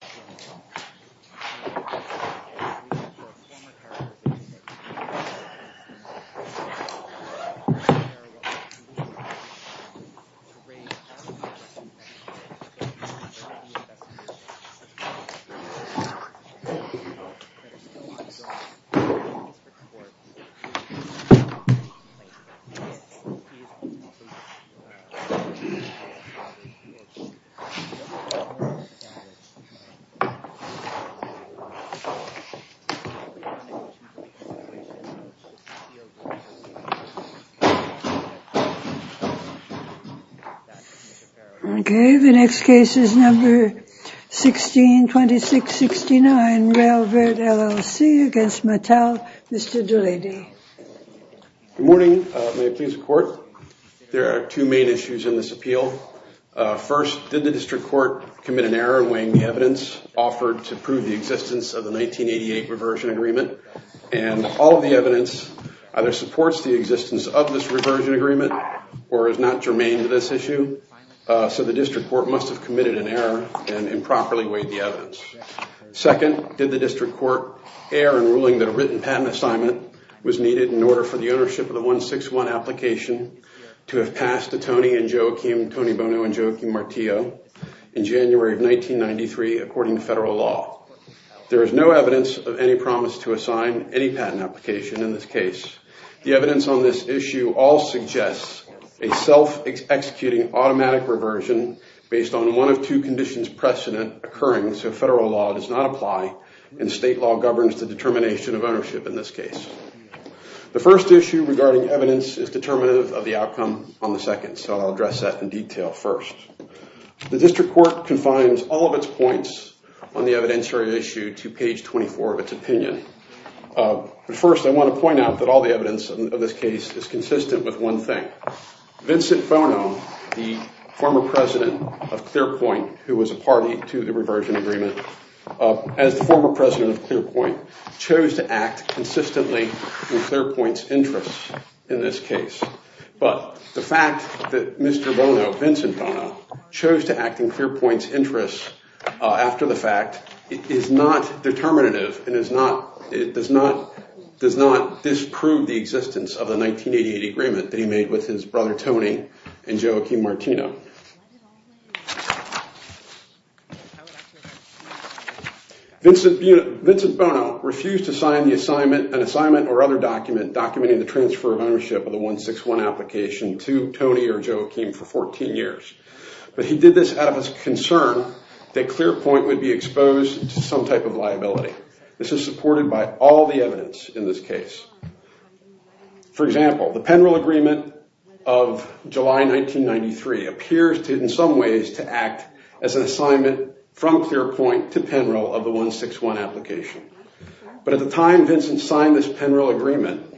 Good morning. May it please the court. There are two main issues in this appeal. First, did the district court commit an error in weighing the evidence offered to prove the existence of the 1988 reversion agreement? And all of the evidence either supports the existence of this reversion agreement or is not germane to this issue. So the district court must have committed an error and improperly weighed the evidence. Second, did the district court err in ruling that a written patent assignment was needed in order for the ownership of the 161 application to have passed to Tony Bono and Joaquin Martillo in January of 1993 according to federal law? There is no evidence of any promise to assign any patent application in this case. The evidence on this issue all suggests a self-executing automatic reversion based on one of two conditions precedent occurring so federal law does not apply and state law governs the determination of ownership in this outcome on the second. So I'll address that in detail first. The district court confines all of its points on the evidentiary issue to page 24 of its opinion. But first I want to point out that all the evidence of this case is consistent with one thing. Vincent Bono, the former president of Clearpoint who was a party to the reversion agreement, as the former president of Clearpoint chose to act consistently in Clearpoint's interest in this case. But the fact that Mr. Bono, Vincent Bono, chose to act in Clearpoint's interest after the fact is not determinative and is not, it does not, does not disprove the existence of the 1988 agreement that he made with his brother refused to sign the assignment, an assignment or other document documenting the transfer of ownership of the 161 application to Tony or Joe Akeem for 14 years. But he did this out of his concern that Clearpoint would be exposed to some type of liability. This is supported by all the evidence in this case. For example, the Penrill agreement of July 1993 appears to in some ways to an assignment from Clearpoint to Penrill of the 161 application. But at the time Vincent signed this Penrill agreement,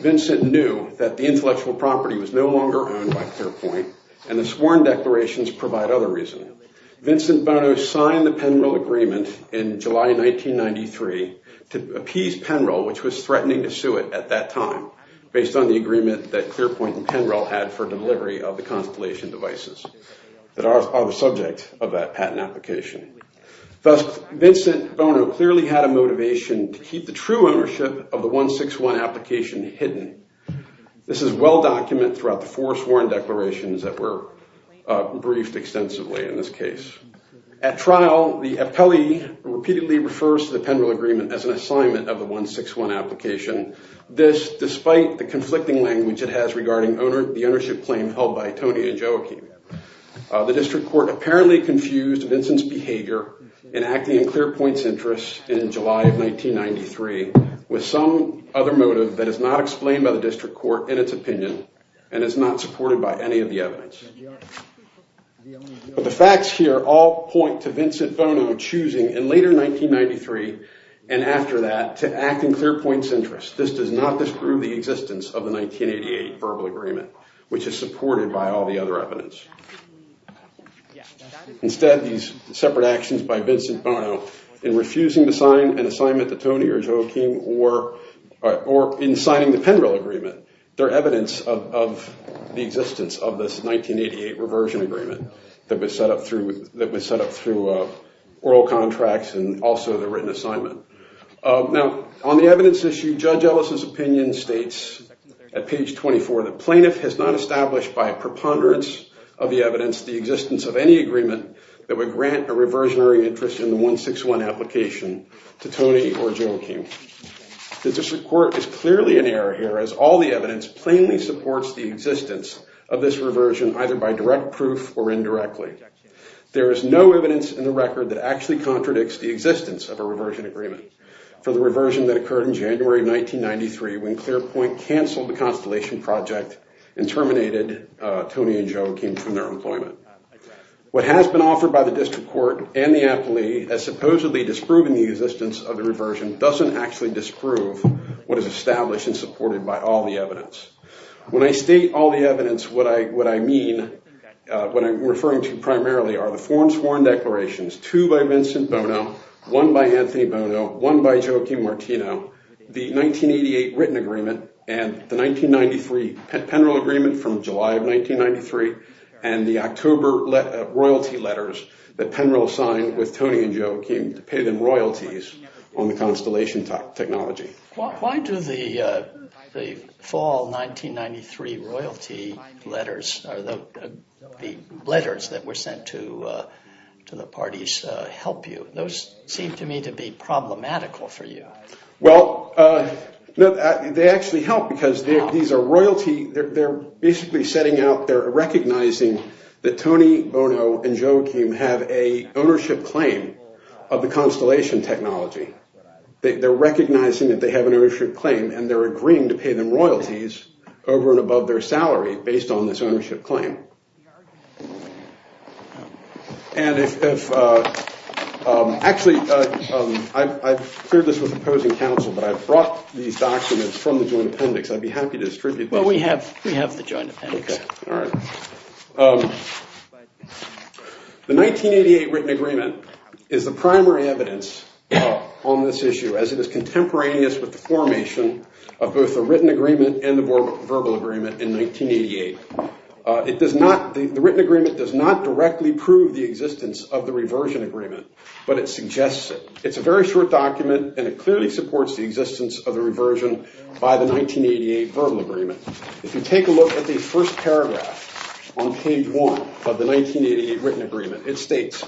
Vincent knew that the intellectual property was no longer owned by Clearpoint and the sworn declarations provide other reason. Vincent Bono signed the Penrill agreement in July 1993 to appease Penrill, which was threatening to sue it at that time based on the agreement that Clearpoint and Penrill had for delivery of the Constellation devices that are the subject of that patent application. Thus, Vincent Bono clearly had a motivation to keep the true ownership of the 161 application hidden. This is well documented throughout the four sworn declarations that were briefed extensively in this case. At trial, the appellee repeatedly refers to the Penrill agreement as an assignment of the 161 application. This, despite the conflicting apparently confused Vincent's behavior in acting in Clearpoint's interest in July of 1993 with some other motive that is not explained by the district court in its opinion and is not supported by any of the evidence. But the facts here all point to Vincent Bono choosing in later 1993 and after that to act in Clearpoint's interest. This does not disprove the existence of the 1988 verbal agreement, which is supported by all the other evidence. Instead, these separate actions by Vincent Bono in refusing to sign an assignment to Tony or Joaquin or in signing the Penrill agreement, they're evidence of the existence of this 1988 reversion agreement that was set up through oral contracts and also the written assignment. Now, on the evidence issue, Judge Ellis's opinion states at page 24 that plaintiff has not established by a preponderance of the evidence the existence of any agreement that would grant a reversionary interest in the 161 application to Tony or Joaquin. The district court is clearly in error here as all the evidence plainly supports the existence of this reversion either by direct proof or indirectly. There is no evidence in the record that actually contradicts the existence of a reversion agreement for the 1993 when Clearpoint canceled the Constellation Project and terminated Tony and Joaquin from their employment. What has been offered by the district court and the aptly as supposedly disproving the existence of the reversion doesn't actually disprove what is established and supported by all the evidence. When I state all the evidence, what I mean, what I'm referring to primarily are the foreign sworn declarations, two by Vincent Bono, one by Anthony Bono, one by Joaquin Martino, the 1988 written agreement, and the 1993 Penrill agreement from July of 1993, and the October royalty letters that Penrill signed with Tony and Joaquin to pay them royalties on the Constellation technology. Why do the fall 1993 royalty letters, the letters that were sent to the parties, help you? Those seem to me to be problematical for you. Well, they actually help because these are royalty, they're basically setting out, they're recognizing that Tony Bono and Joaquin have an ownership claim of the Constellation technology. They're recognizing that they have an ownership claim and they're agreeing to pay them royalties over and above their salary based on this ownership claim. And if, actually, I've cleared this with opposing counsel, but I brought these documents from the joint appendix. I'd be happy to distribute them. Well, we have the joint appendix. The 1988 written agreement is the primary evidence on this issue as it is contemporaneous with the formation of both the written agreement and the verbal agreement in the 1980s. The written agreement does not directly prove the existence of the reversion agreement, but it suggests it. It's a very short document and it clearly supports the existence of the reversion by the 1988 verbal agreement. If you take a look at the first paragraph on page one of the 1988 written agreement, it states,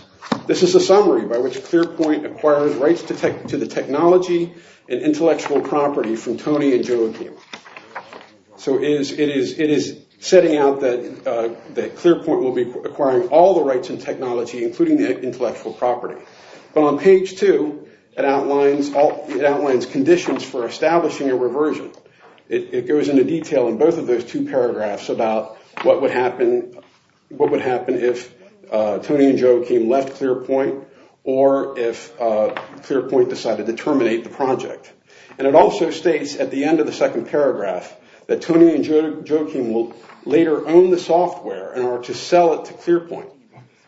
this is a summary by which Clearpoint acquires rights to the technology and intellectual property from Tony and Joaquin. So it is setting out that Clearpoint will be acquiring all the rights and technology, including the intellectual property. But on page two, it outlines conditions for establishing a reversion. It goes into detail in both of those two paragraphs about what would happen if Tony and Joaquin left Clearpoint, or if Clearpoint decided to terminate the project. And it also states at the end of the second paragraph that Tony and Joaquin will later own the software in order to sell it to Clearpoint.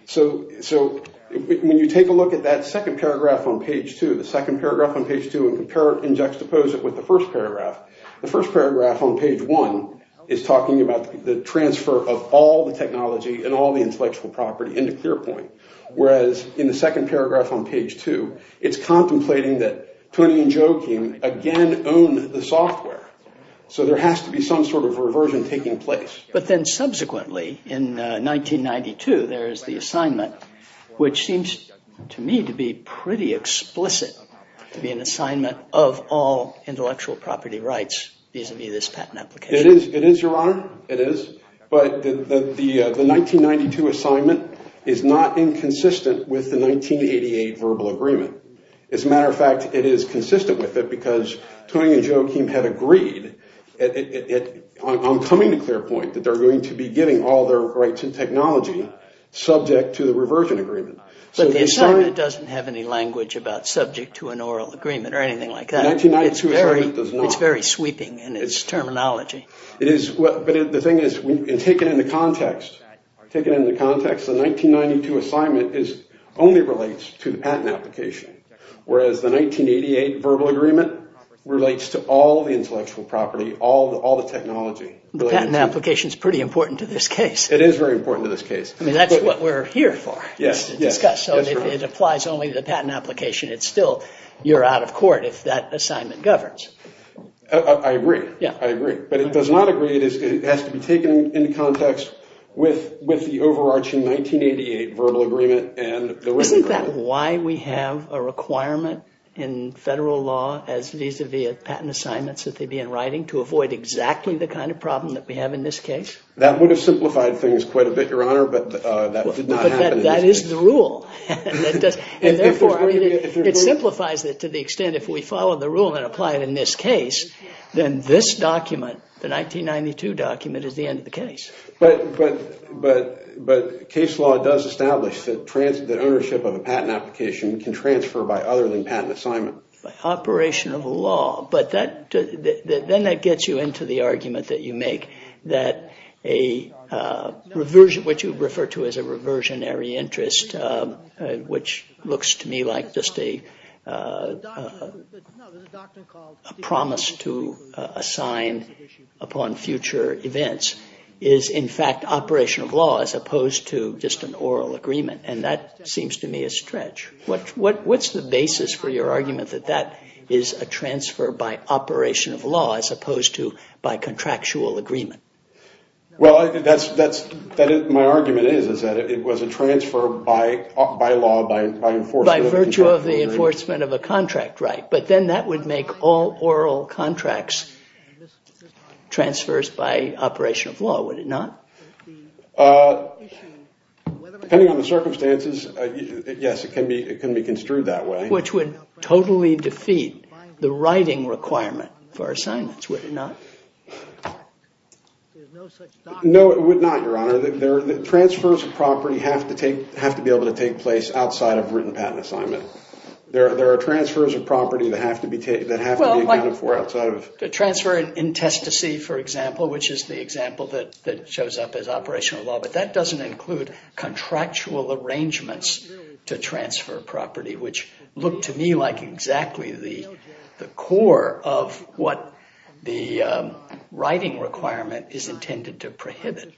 So when you take a look at that second paragraph on page two, the second paragraph on page two, and compare and juxtapose it with the first paragraph, the first paragraph on page one is talking about the transfer of all the technology and all the intellectual property into Clearpoint, whereas in the second paragraph on page two, it's contemplating that Tony and Joaquin again own the software. So there has to be some sort of reversion taking place. But then subsequently, in 1992, there is the assignment, which seems to me to be pretty explicit to be an assignment of all intellectual property rights vis-a-vis this patent application. It is, Your Honor. It is. But the 1992 assignment is not inconsistent with the 1988 verbal agreement. As a matter of fact, it is consistent with it because Tony and Joaquin had agreed on coming to Clearpoint that they're going to be giving all their rights and technology subject to the reversion agreement. But the assignment doesn't have any language about subject to an oral agreement or anything like that. 1992 assignment does not. It's very sweeping in its terminology. It is. But the thing is, take it into context. Take it into context. The 1992 assignment only relates to the patent application, whereas the 1988 verbal agreement relates to all the intellectual property, all the technology. The patent application is pretty important to this case. It is very important to this case. I mean, that's what we're here for. Yes. So it applies only to the patent application. It's still, you're out of court if that assignment governs. I agree. Yeah, I agree. But it does not agree. It has to be taken into context with the overarching 1988 verbal agreement. Isn't that why we have a requirement in federal law as vis-a-vis patent assignments that they'd be in writing to avoid exactly the kind of problem that we have in this case? That would have simplified things quite a bit, Your Honor, but that did not happen. That is the rule. And therefore, it simplifies it to the extent if we follow the rule and apply it in this case, then this document, the 1992 document, is the end of the case. But case law does establish that ownership of a patent application can transfer by other than patent assignment. By operation of the law. But then that gets you into the argument that you make, that what you refer to as a reversionary interest, which looks to me like just a promise to assign upon future events, is in fact operation of law as opposed to just an oral agreement. And that seems to me a stretch. What's the basis for your argument that that is a Well, my argument is that it was a transfer by law, by enforcement. By virtue of the enforcement of a contract, right. But then that would make all oral contracts transfers by operation of law, would it not? Depending on the circumstances, yes, it can be construed that way. Which would totally defeat the writing requirement for assignments, would it not? No, it would not, Your Honor. The transfers of property have to be able to take place outside of written patent assignment. There are transfers of property that have to be accounted for outside of... The transfer in test to see, for example, which is the example that shows up as operational law. But that doesn't include contractual arrangements to transfer property, which look to me like exactly the core of what the writing requirement is intended to prohibit.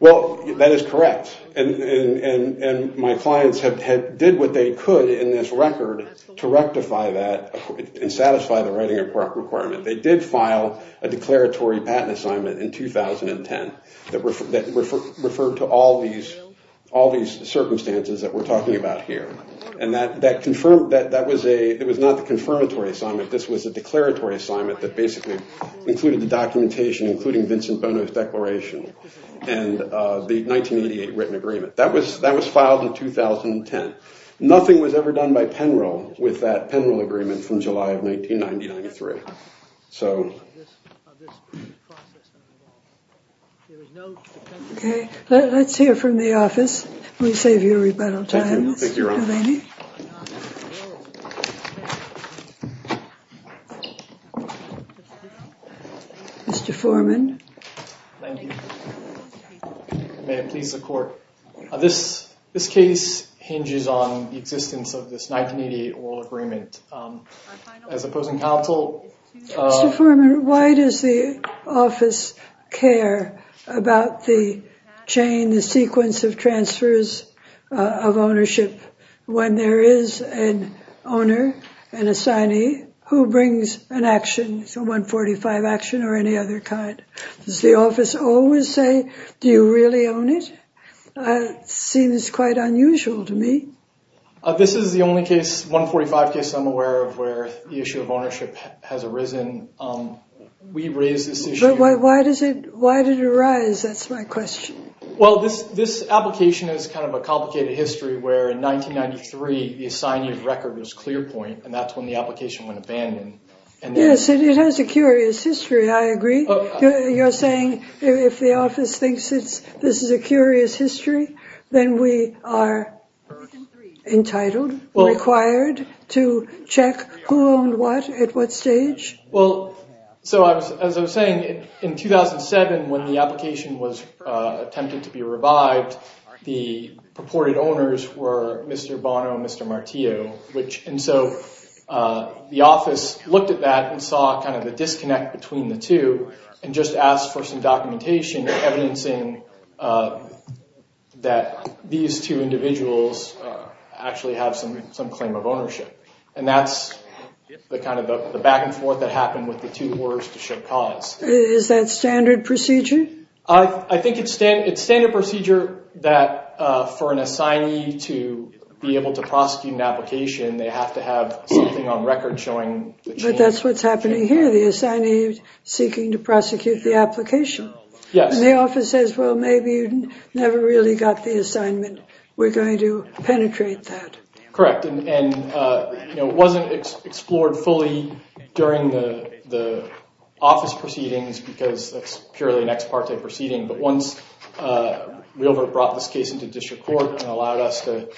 Well, that is correct. And my clients have did what they could in this record to rectify that and satisfy the writing requirement. They did file a declaratory patent assignment in 2010 that referred to all these circumstances that we're talking about here. And that was not the confirmatory assignment, this was a declaratory assignment that basically included the documentation, including Vincent Bono's declaration and the 1988 written agreement. That was filed in 2010. Nothing was ever done by Penro with that Penro agreement from July of 1993. Okay, let's hear from the office. We save you a rebuttal time. Mr. Foreman. Thank you. May it please the court. This case hinges on the existence of this 1988 oral agreement. As opposing counsel... Mr. Foreman, why does the office care about the chain, the sequence of transfers of ownership when there is an owner, an assignee, who brings an action, a 145 action or any other kind? Does the office always say, do you really own it? Seems quite unusual to me. This is the only case, 145 case, I'm aware of the issue of ownership has arisen. We raise this issue... Why did it arise? That's my question. Well, this application is kind of a complicated history where in 1993 the assignee record was clear point and that's when the application went abandoned. Yes, it has a curious history, I agree. You're saying if the office thinks this is a curious history, then we are entitled, required to check who owned what at what stage? Well, so as I was saying, in 2007 when the application was attempted to be revived, the purported owners were Mr. Bono and Mr. Martillo, which and so the office looked at that and saw kind of the disconnect between the two and just asked for some documentation or evidencing that these two individuals actually have some claim of ownership and that's the kind of the back and forth that happened with the two orders to show cause. Is that standard procedure? I think it's standard procedure that for an assignee to be able to prosecute an application, they have to have something on record showing... But that's what's happening here. The assignee is seeking to prosecute the application. Yes. And the office says, well, maybe you never really got the assignment. We're going to penetrate that. Correct, and it wasn't explored fully during the office proceedings because that's purely an ex parte proceeding, but once Weilbert brought this case to district court and allowed us to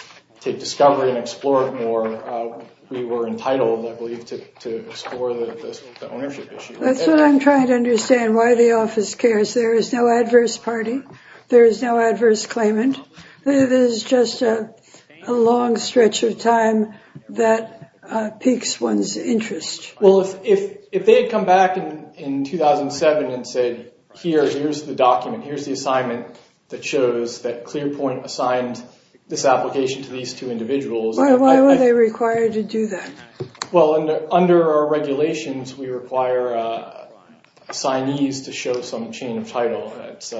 take discovery and explore it more, we were entitled, I believe, to explore the ownership issue. That's what I'm trying to understand, why the office cares. There is no adverse party. There is no adverse claimant. It is just a long stretch of time that piques one's interest. Well, if they had come back in 2007 and said, here's the document, here's the assignment that shows that Clearpoint assigned this application to these two individuals... Why were they required to do that? Well, under our regulations, we require assignees to show some chain of title. That's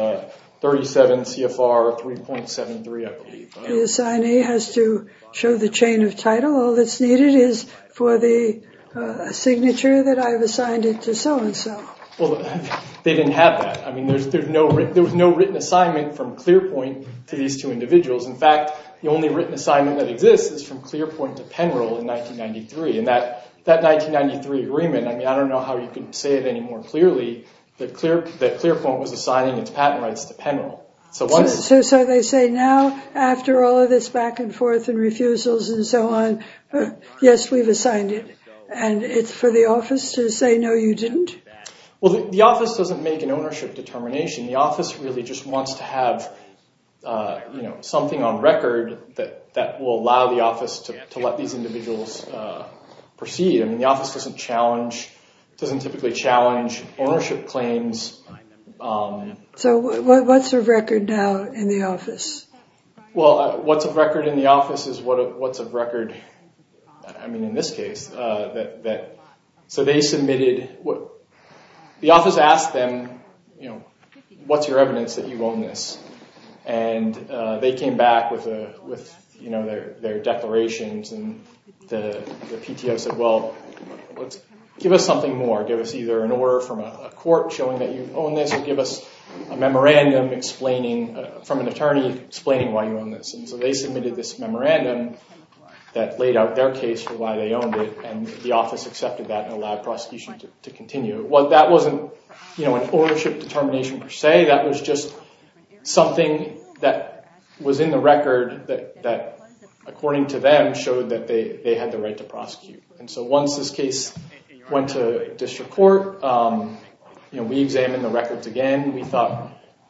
37 CFR 3.73, I believe. The assignee has to show the chain of title. All that's needed is for the signature that I've assigned it to so-and-so. Well, they didn't have that. I mean, there was no written assignment from Clearpoint to these two individuals. In fact, the only written assignment that exists is from Clearpoint to Penrill in 1993, and that 1993 agreement, I mean, I don't know how you can say it any more clearly, that Clearpoint was assigning its patent rights to Penrill. So once... So they say now, after all of this back and forth and refusals and so on, yes, we've assigned it, and it's for the office to say, no, you didn't? Well, the office doesn't make an ownership determination. The office really just wants to have, you know, something on record that will allow the office to let these individuals proceed. I mean, the office doesn't typically challenge ownership claims. So what's a record now in the office? Well, what's a record in the office is what's a record, I mean, in this case. So they submitted... The office asked them, you know, what's your evidence that you own this? And they came back with, you know, their declarations, and the PTO said, well, let's give us something more. Give us either an order from a court showing that you own this, or give us a memorandum from an attorney explaining why you own this. And so they laid out their case for why they owned it, and the office accepted that and allowed prosecution to continue. Well, that wasn't, you know, an ownership determination per se. That was just something that was in the record that, according to them, showed that they had the right to prosecute. And so once this case went to district court, you know, we examined the records again.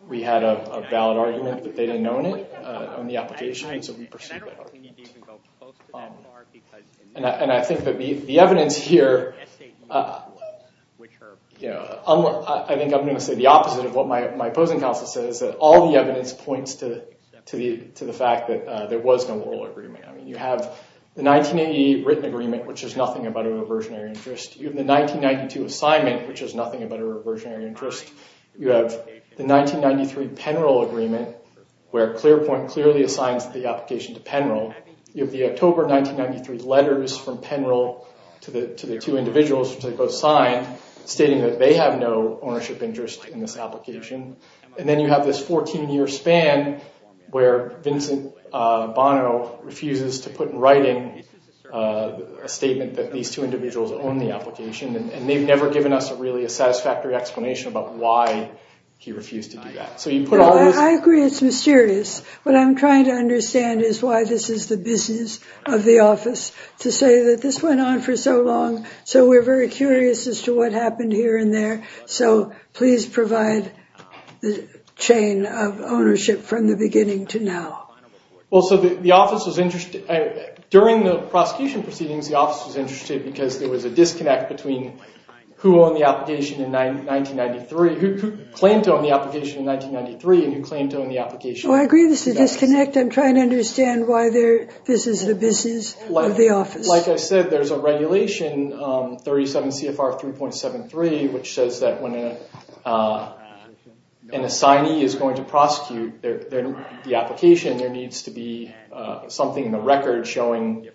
We had a valid argument that they didn't own it on the application, so we pursued it. And I think that the evidence here, you know, I think I'm going to say the opposite of what my opposing counsel says, that all the evidence points to the fact that there was no oral agreement. I mean, you have the 1988 written agreement, which is nothing but a reversionary interest. You have the 1992 assignment, which is nothing but a reversionary interest. You have the 1993 Penroll agreement, where Clearpoint clearly assigns the application to Penroll. You have the October 1993 letters from Penroll to the two individuals, which they both signed, stating that they have no ownership interest in this application. And then you have this 14-year span where Vincent Bono refuses to put in writing a statement that these two individuals own the application, and they've never given us a really satisfactory explanation about why he refused to do that. So you put all this... I agree it's mysterious. What I'm trying to understand is why this is the business of the office to say that this went on for so long, so we're very curious as to what happened here and there. So please provide the chain of ownership from the beginning to now. Well, so the office was interested... During the prosecution proceedings, the office was interested because there was a disconnect between who owned the application in 1993, who claimed to own the application in 1993, and who claimed to own the application... Well, I agree this is a disconnect. I'm trying to understand why this is the business of the office. Like I said, there's a regulation, 37 CFR 3.73, which says that when an assignee is going to be prosecuted, there needs to be something in the record showing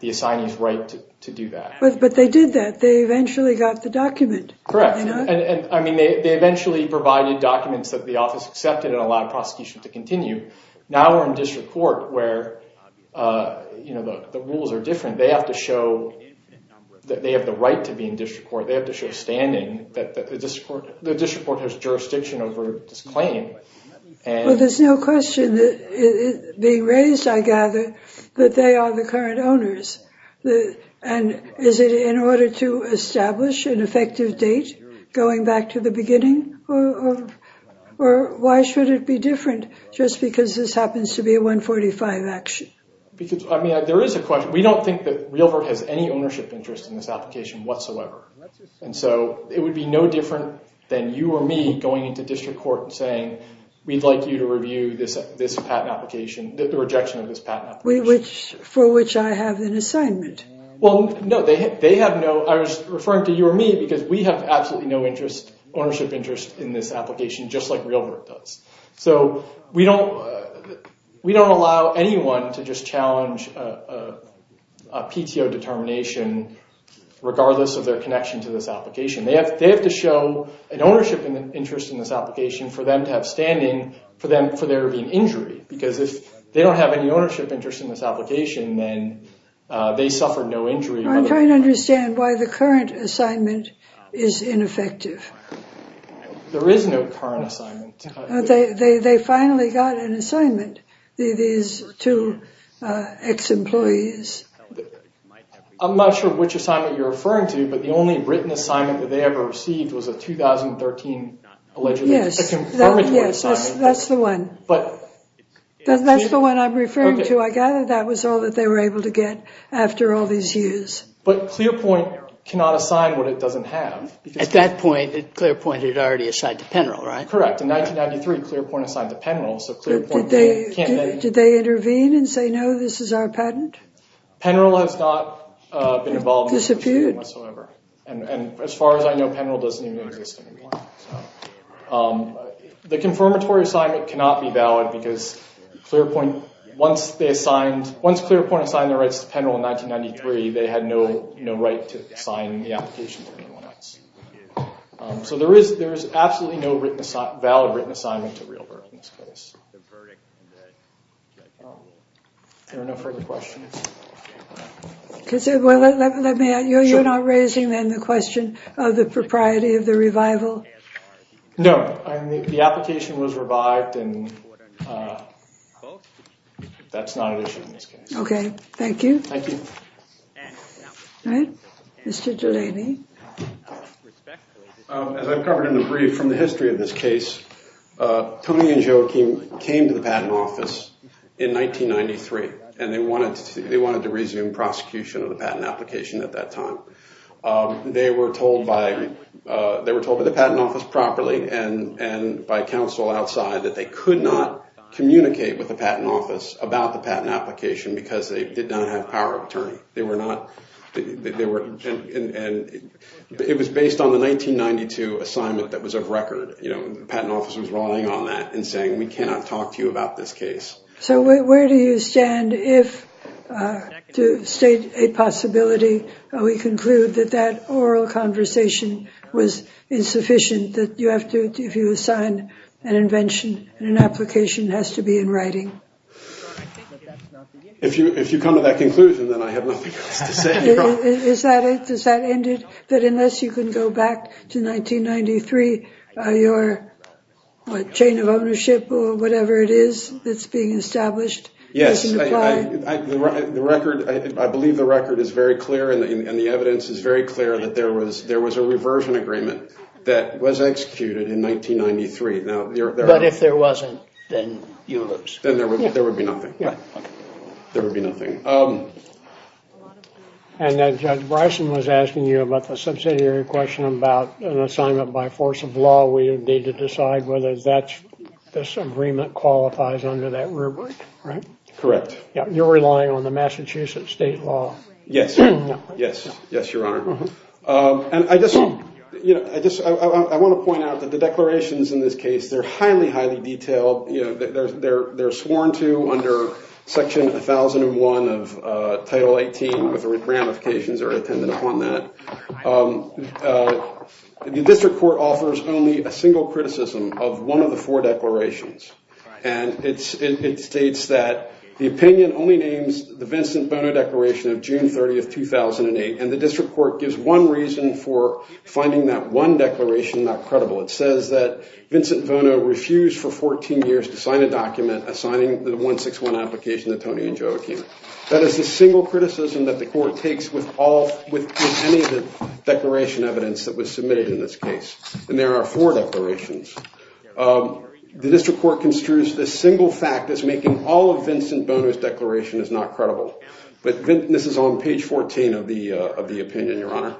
the assignee's right to do that. But they did that. They eventually got the document. Correct. I mean, they eventually provided documents that the office accepted and allowed prosecution to continue. Now we're in district court where the rules are different. They have to show that they have the right to be in district court. They have to show standing that the district court has jurisdiction over this claim. Well, there's no question being raised, I gather, that they are the current owners. And is it in order to establish an effective date going back to the beginning? Or why should it be different just because this happens to be a 145 action? Because, I mean, there is a question. We don't think that RealVert has any ownership interest in this application whatsoever. And so it would be no different than you or me going into district court and saying, we'd like you to review the rejection of this patent application. For which I have an assignment. Well, no. They have no... I was referring to you or me because we have absolutely no ownership interest in this application, just like RealVert does. So we don't allow anyone to just challenge a PTO determination regardless of their connection to this application. They have to show an ownership interest in this application for them to have standing for there being injury. Because if they don't have any ownership interest in this application, then they suffer no injury. I'm trying to understand why the current assignment is ineffective. There is no current assignment. They finally got an assignment, these two ex-employees. I'm not sure which assignment you're referring to, but the only written assignment that they received was a 2013... Yes, that's the one. That's the one I'm referring to. I gather that was all that they were able to get after all these years. But ClearPoint cannot assign what it doesn't have. At that point, ClearPoint had already assigned to Penrill, right? Correct. In 1993, ClearPoint assigned to Penrill. Did they intervene and say, no, this is our patent? Penrill has not been involved in this whatsoever. As far as I know, Penrill doesn't even exist anymore. The confirmatory assignment cannot be valid because ClearPoint, once ClearPoint assigned their rights to Penrill in 1993, they had no right to assign the application to anyone else. So there is absolutely no valid written assignment to Rehlberg in this case. There are no further questions. Let me ask you, you're not raising then the question of the propriety of the revival? No, the application was revived and that's not an issue in this case. Okay, thank you. Thank you. All right, Mr. Delaney. As I've covered in the brief from the history of this case, Tony and Joe came to the patent office in 1993, and they wanted to resume prosecution of the patent application at that time. They were told by the patent office properly and by counsel outside that they could not communicate with the patent office about the patent application because they did not have power of attorney. It was based on the 1992 assignment that was of record. The patent office was relying on that and saying, we cannot talk to you about this case. So where do you stand if, to state a possibility, we conclude that that oral conversation was insufficient, that if you assign an invention, an application has to be in writing? If you come to that conclusion, then I have nothing else to say. Is that it? Does that end it? That unless you can go back to 1993, your chain of ownership or whatever it is that's being established? Yes, I believe the record is very clear and the evidence is very clear that there was a reversion agreement that was executed in 1993. But if there wasn't, then you lose. Then there would be nothing. There would be nothing. And Judge Bryson was asking you about the subsidiary question about an assignment by force of law. We would need to decide whether this agreement qualifies under that rubric, right? Correct. You're relying on the Massachusetts state law. Yes. Yes. Yes, Your Honor. And I want to point out that the declarations in this case, they're highly, highly detailed. They're sworn to under Section 1001 of Title 18 with ramifications that are intended upon that. The district court offers only a single criticism of one of the four declarations. And it states that the opinion only names the Vincent Bono Declaration of June 30th, 2008. And the district court gives one reason for finding that one declaration not credible. It says that Vincent Bono refused for 14 years to sign a document assigning the 161 application to Tony and Joe O'Keefe. That is the single criticism that the court takes with any of the declaration evidence that was submitted in this case. And there are four declarations. The district court construes this single fact as making all of Vincent Bono's declaration is not credible. But this is on page 14 of the opinion, Your Honor.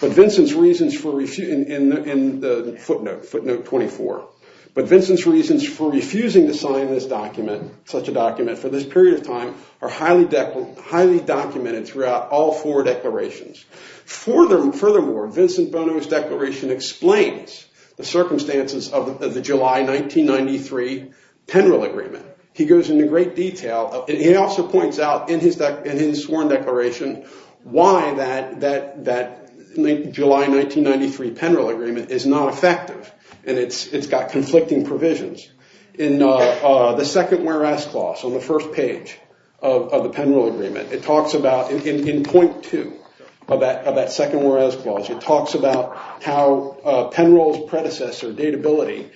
But Vincent's reasons for refusing in the footnote, footnote 24. But Vincent's reasons for refusing to sign this document, such a document, for this period of time are highly documented throughout all four declarations. Furthermore, Vincent Bono's declaration explains the circumstances of the July 1993 Penrill Agreement. He goes into great detail. And he also points out in his sworn declaration why that July 1993 Penrill Agreement is not effective. And it's got conflicting provisions. In the second whereas clause on the first page of the Penrill Agreement, it talks about, in point two of that second whereas clause, it talks about how Penrill's predecessor, Datability,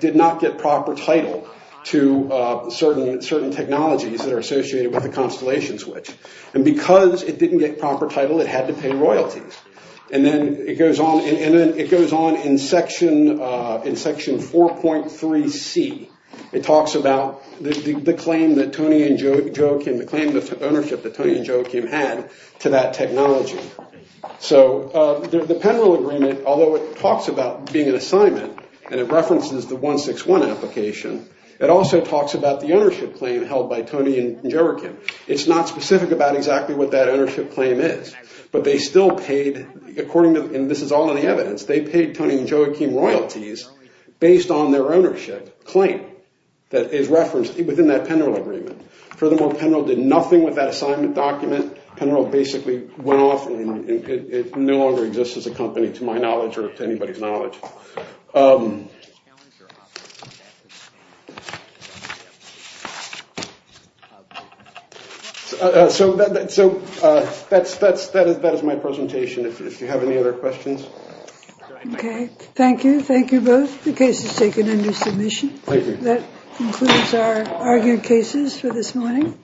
did not get proper title to certain technologies that are associated with the Constellation Switch. And because it didn't get proper title, it had to pay royalties. And then it goes on in section 4.3c. It talks about the claim that Tony and Joachim, the claim of ownership that Tony and Joachim had to that technology. So the Penrill Agreement, although it talks about being an assignment, and it references the 161 application, it also talks about the ownership claim held by Tony and Joachim. It's not specific about exactly what that ownership claim is. But they still paid, according to, and this is all in the evidence, they paid Tony and claim that is referenced within that Penrill Agreement. Furthermore, Penrill did nothing with that assignment document. Penrill basically went off and it no longer exists as a company to my knowledge or to anybody's knowledge. So that is my presentation. If you have any other questions. Okay, thank you. Thank you both. The case is taken under submission. Thank you. That concludes our argued cases for this morning.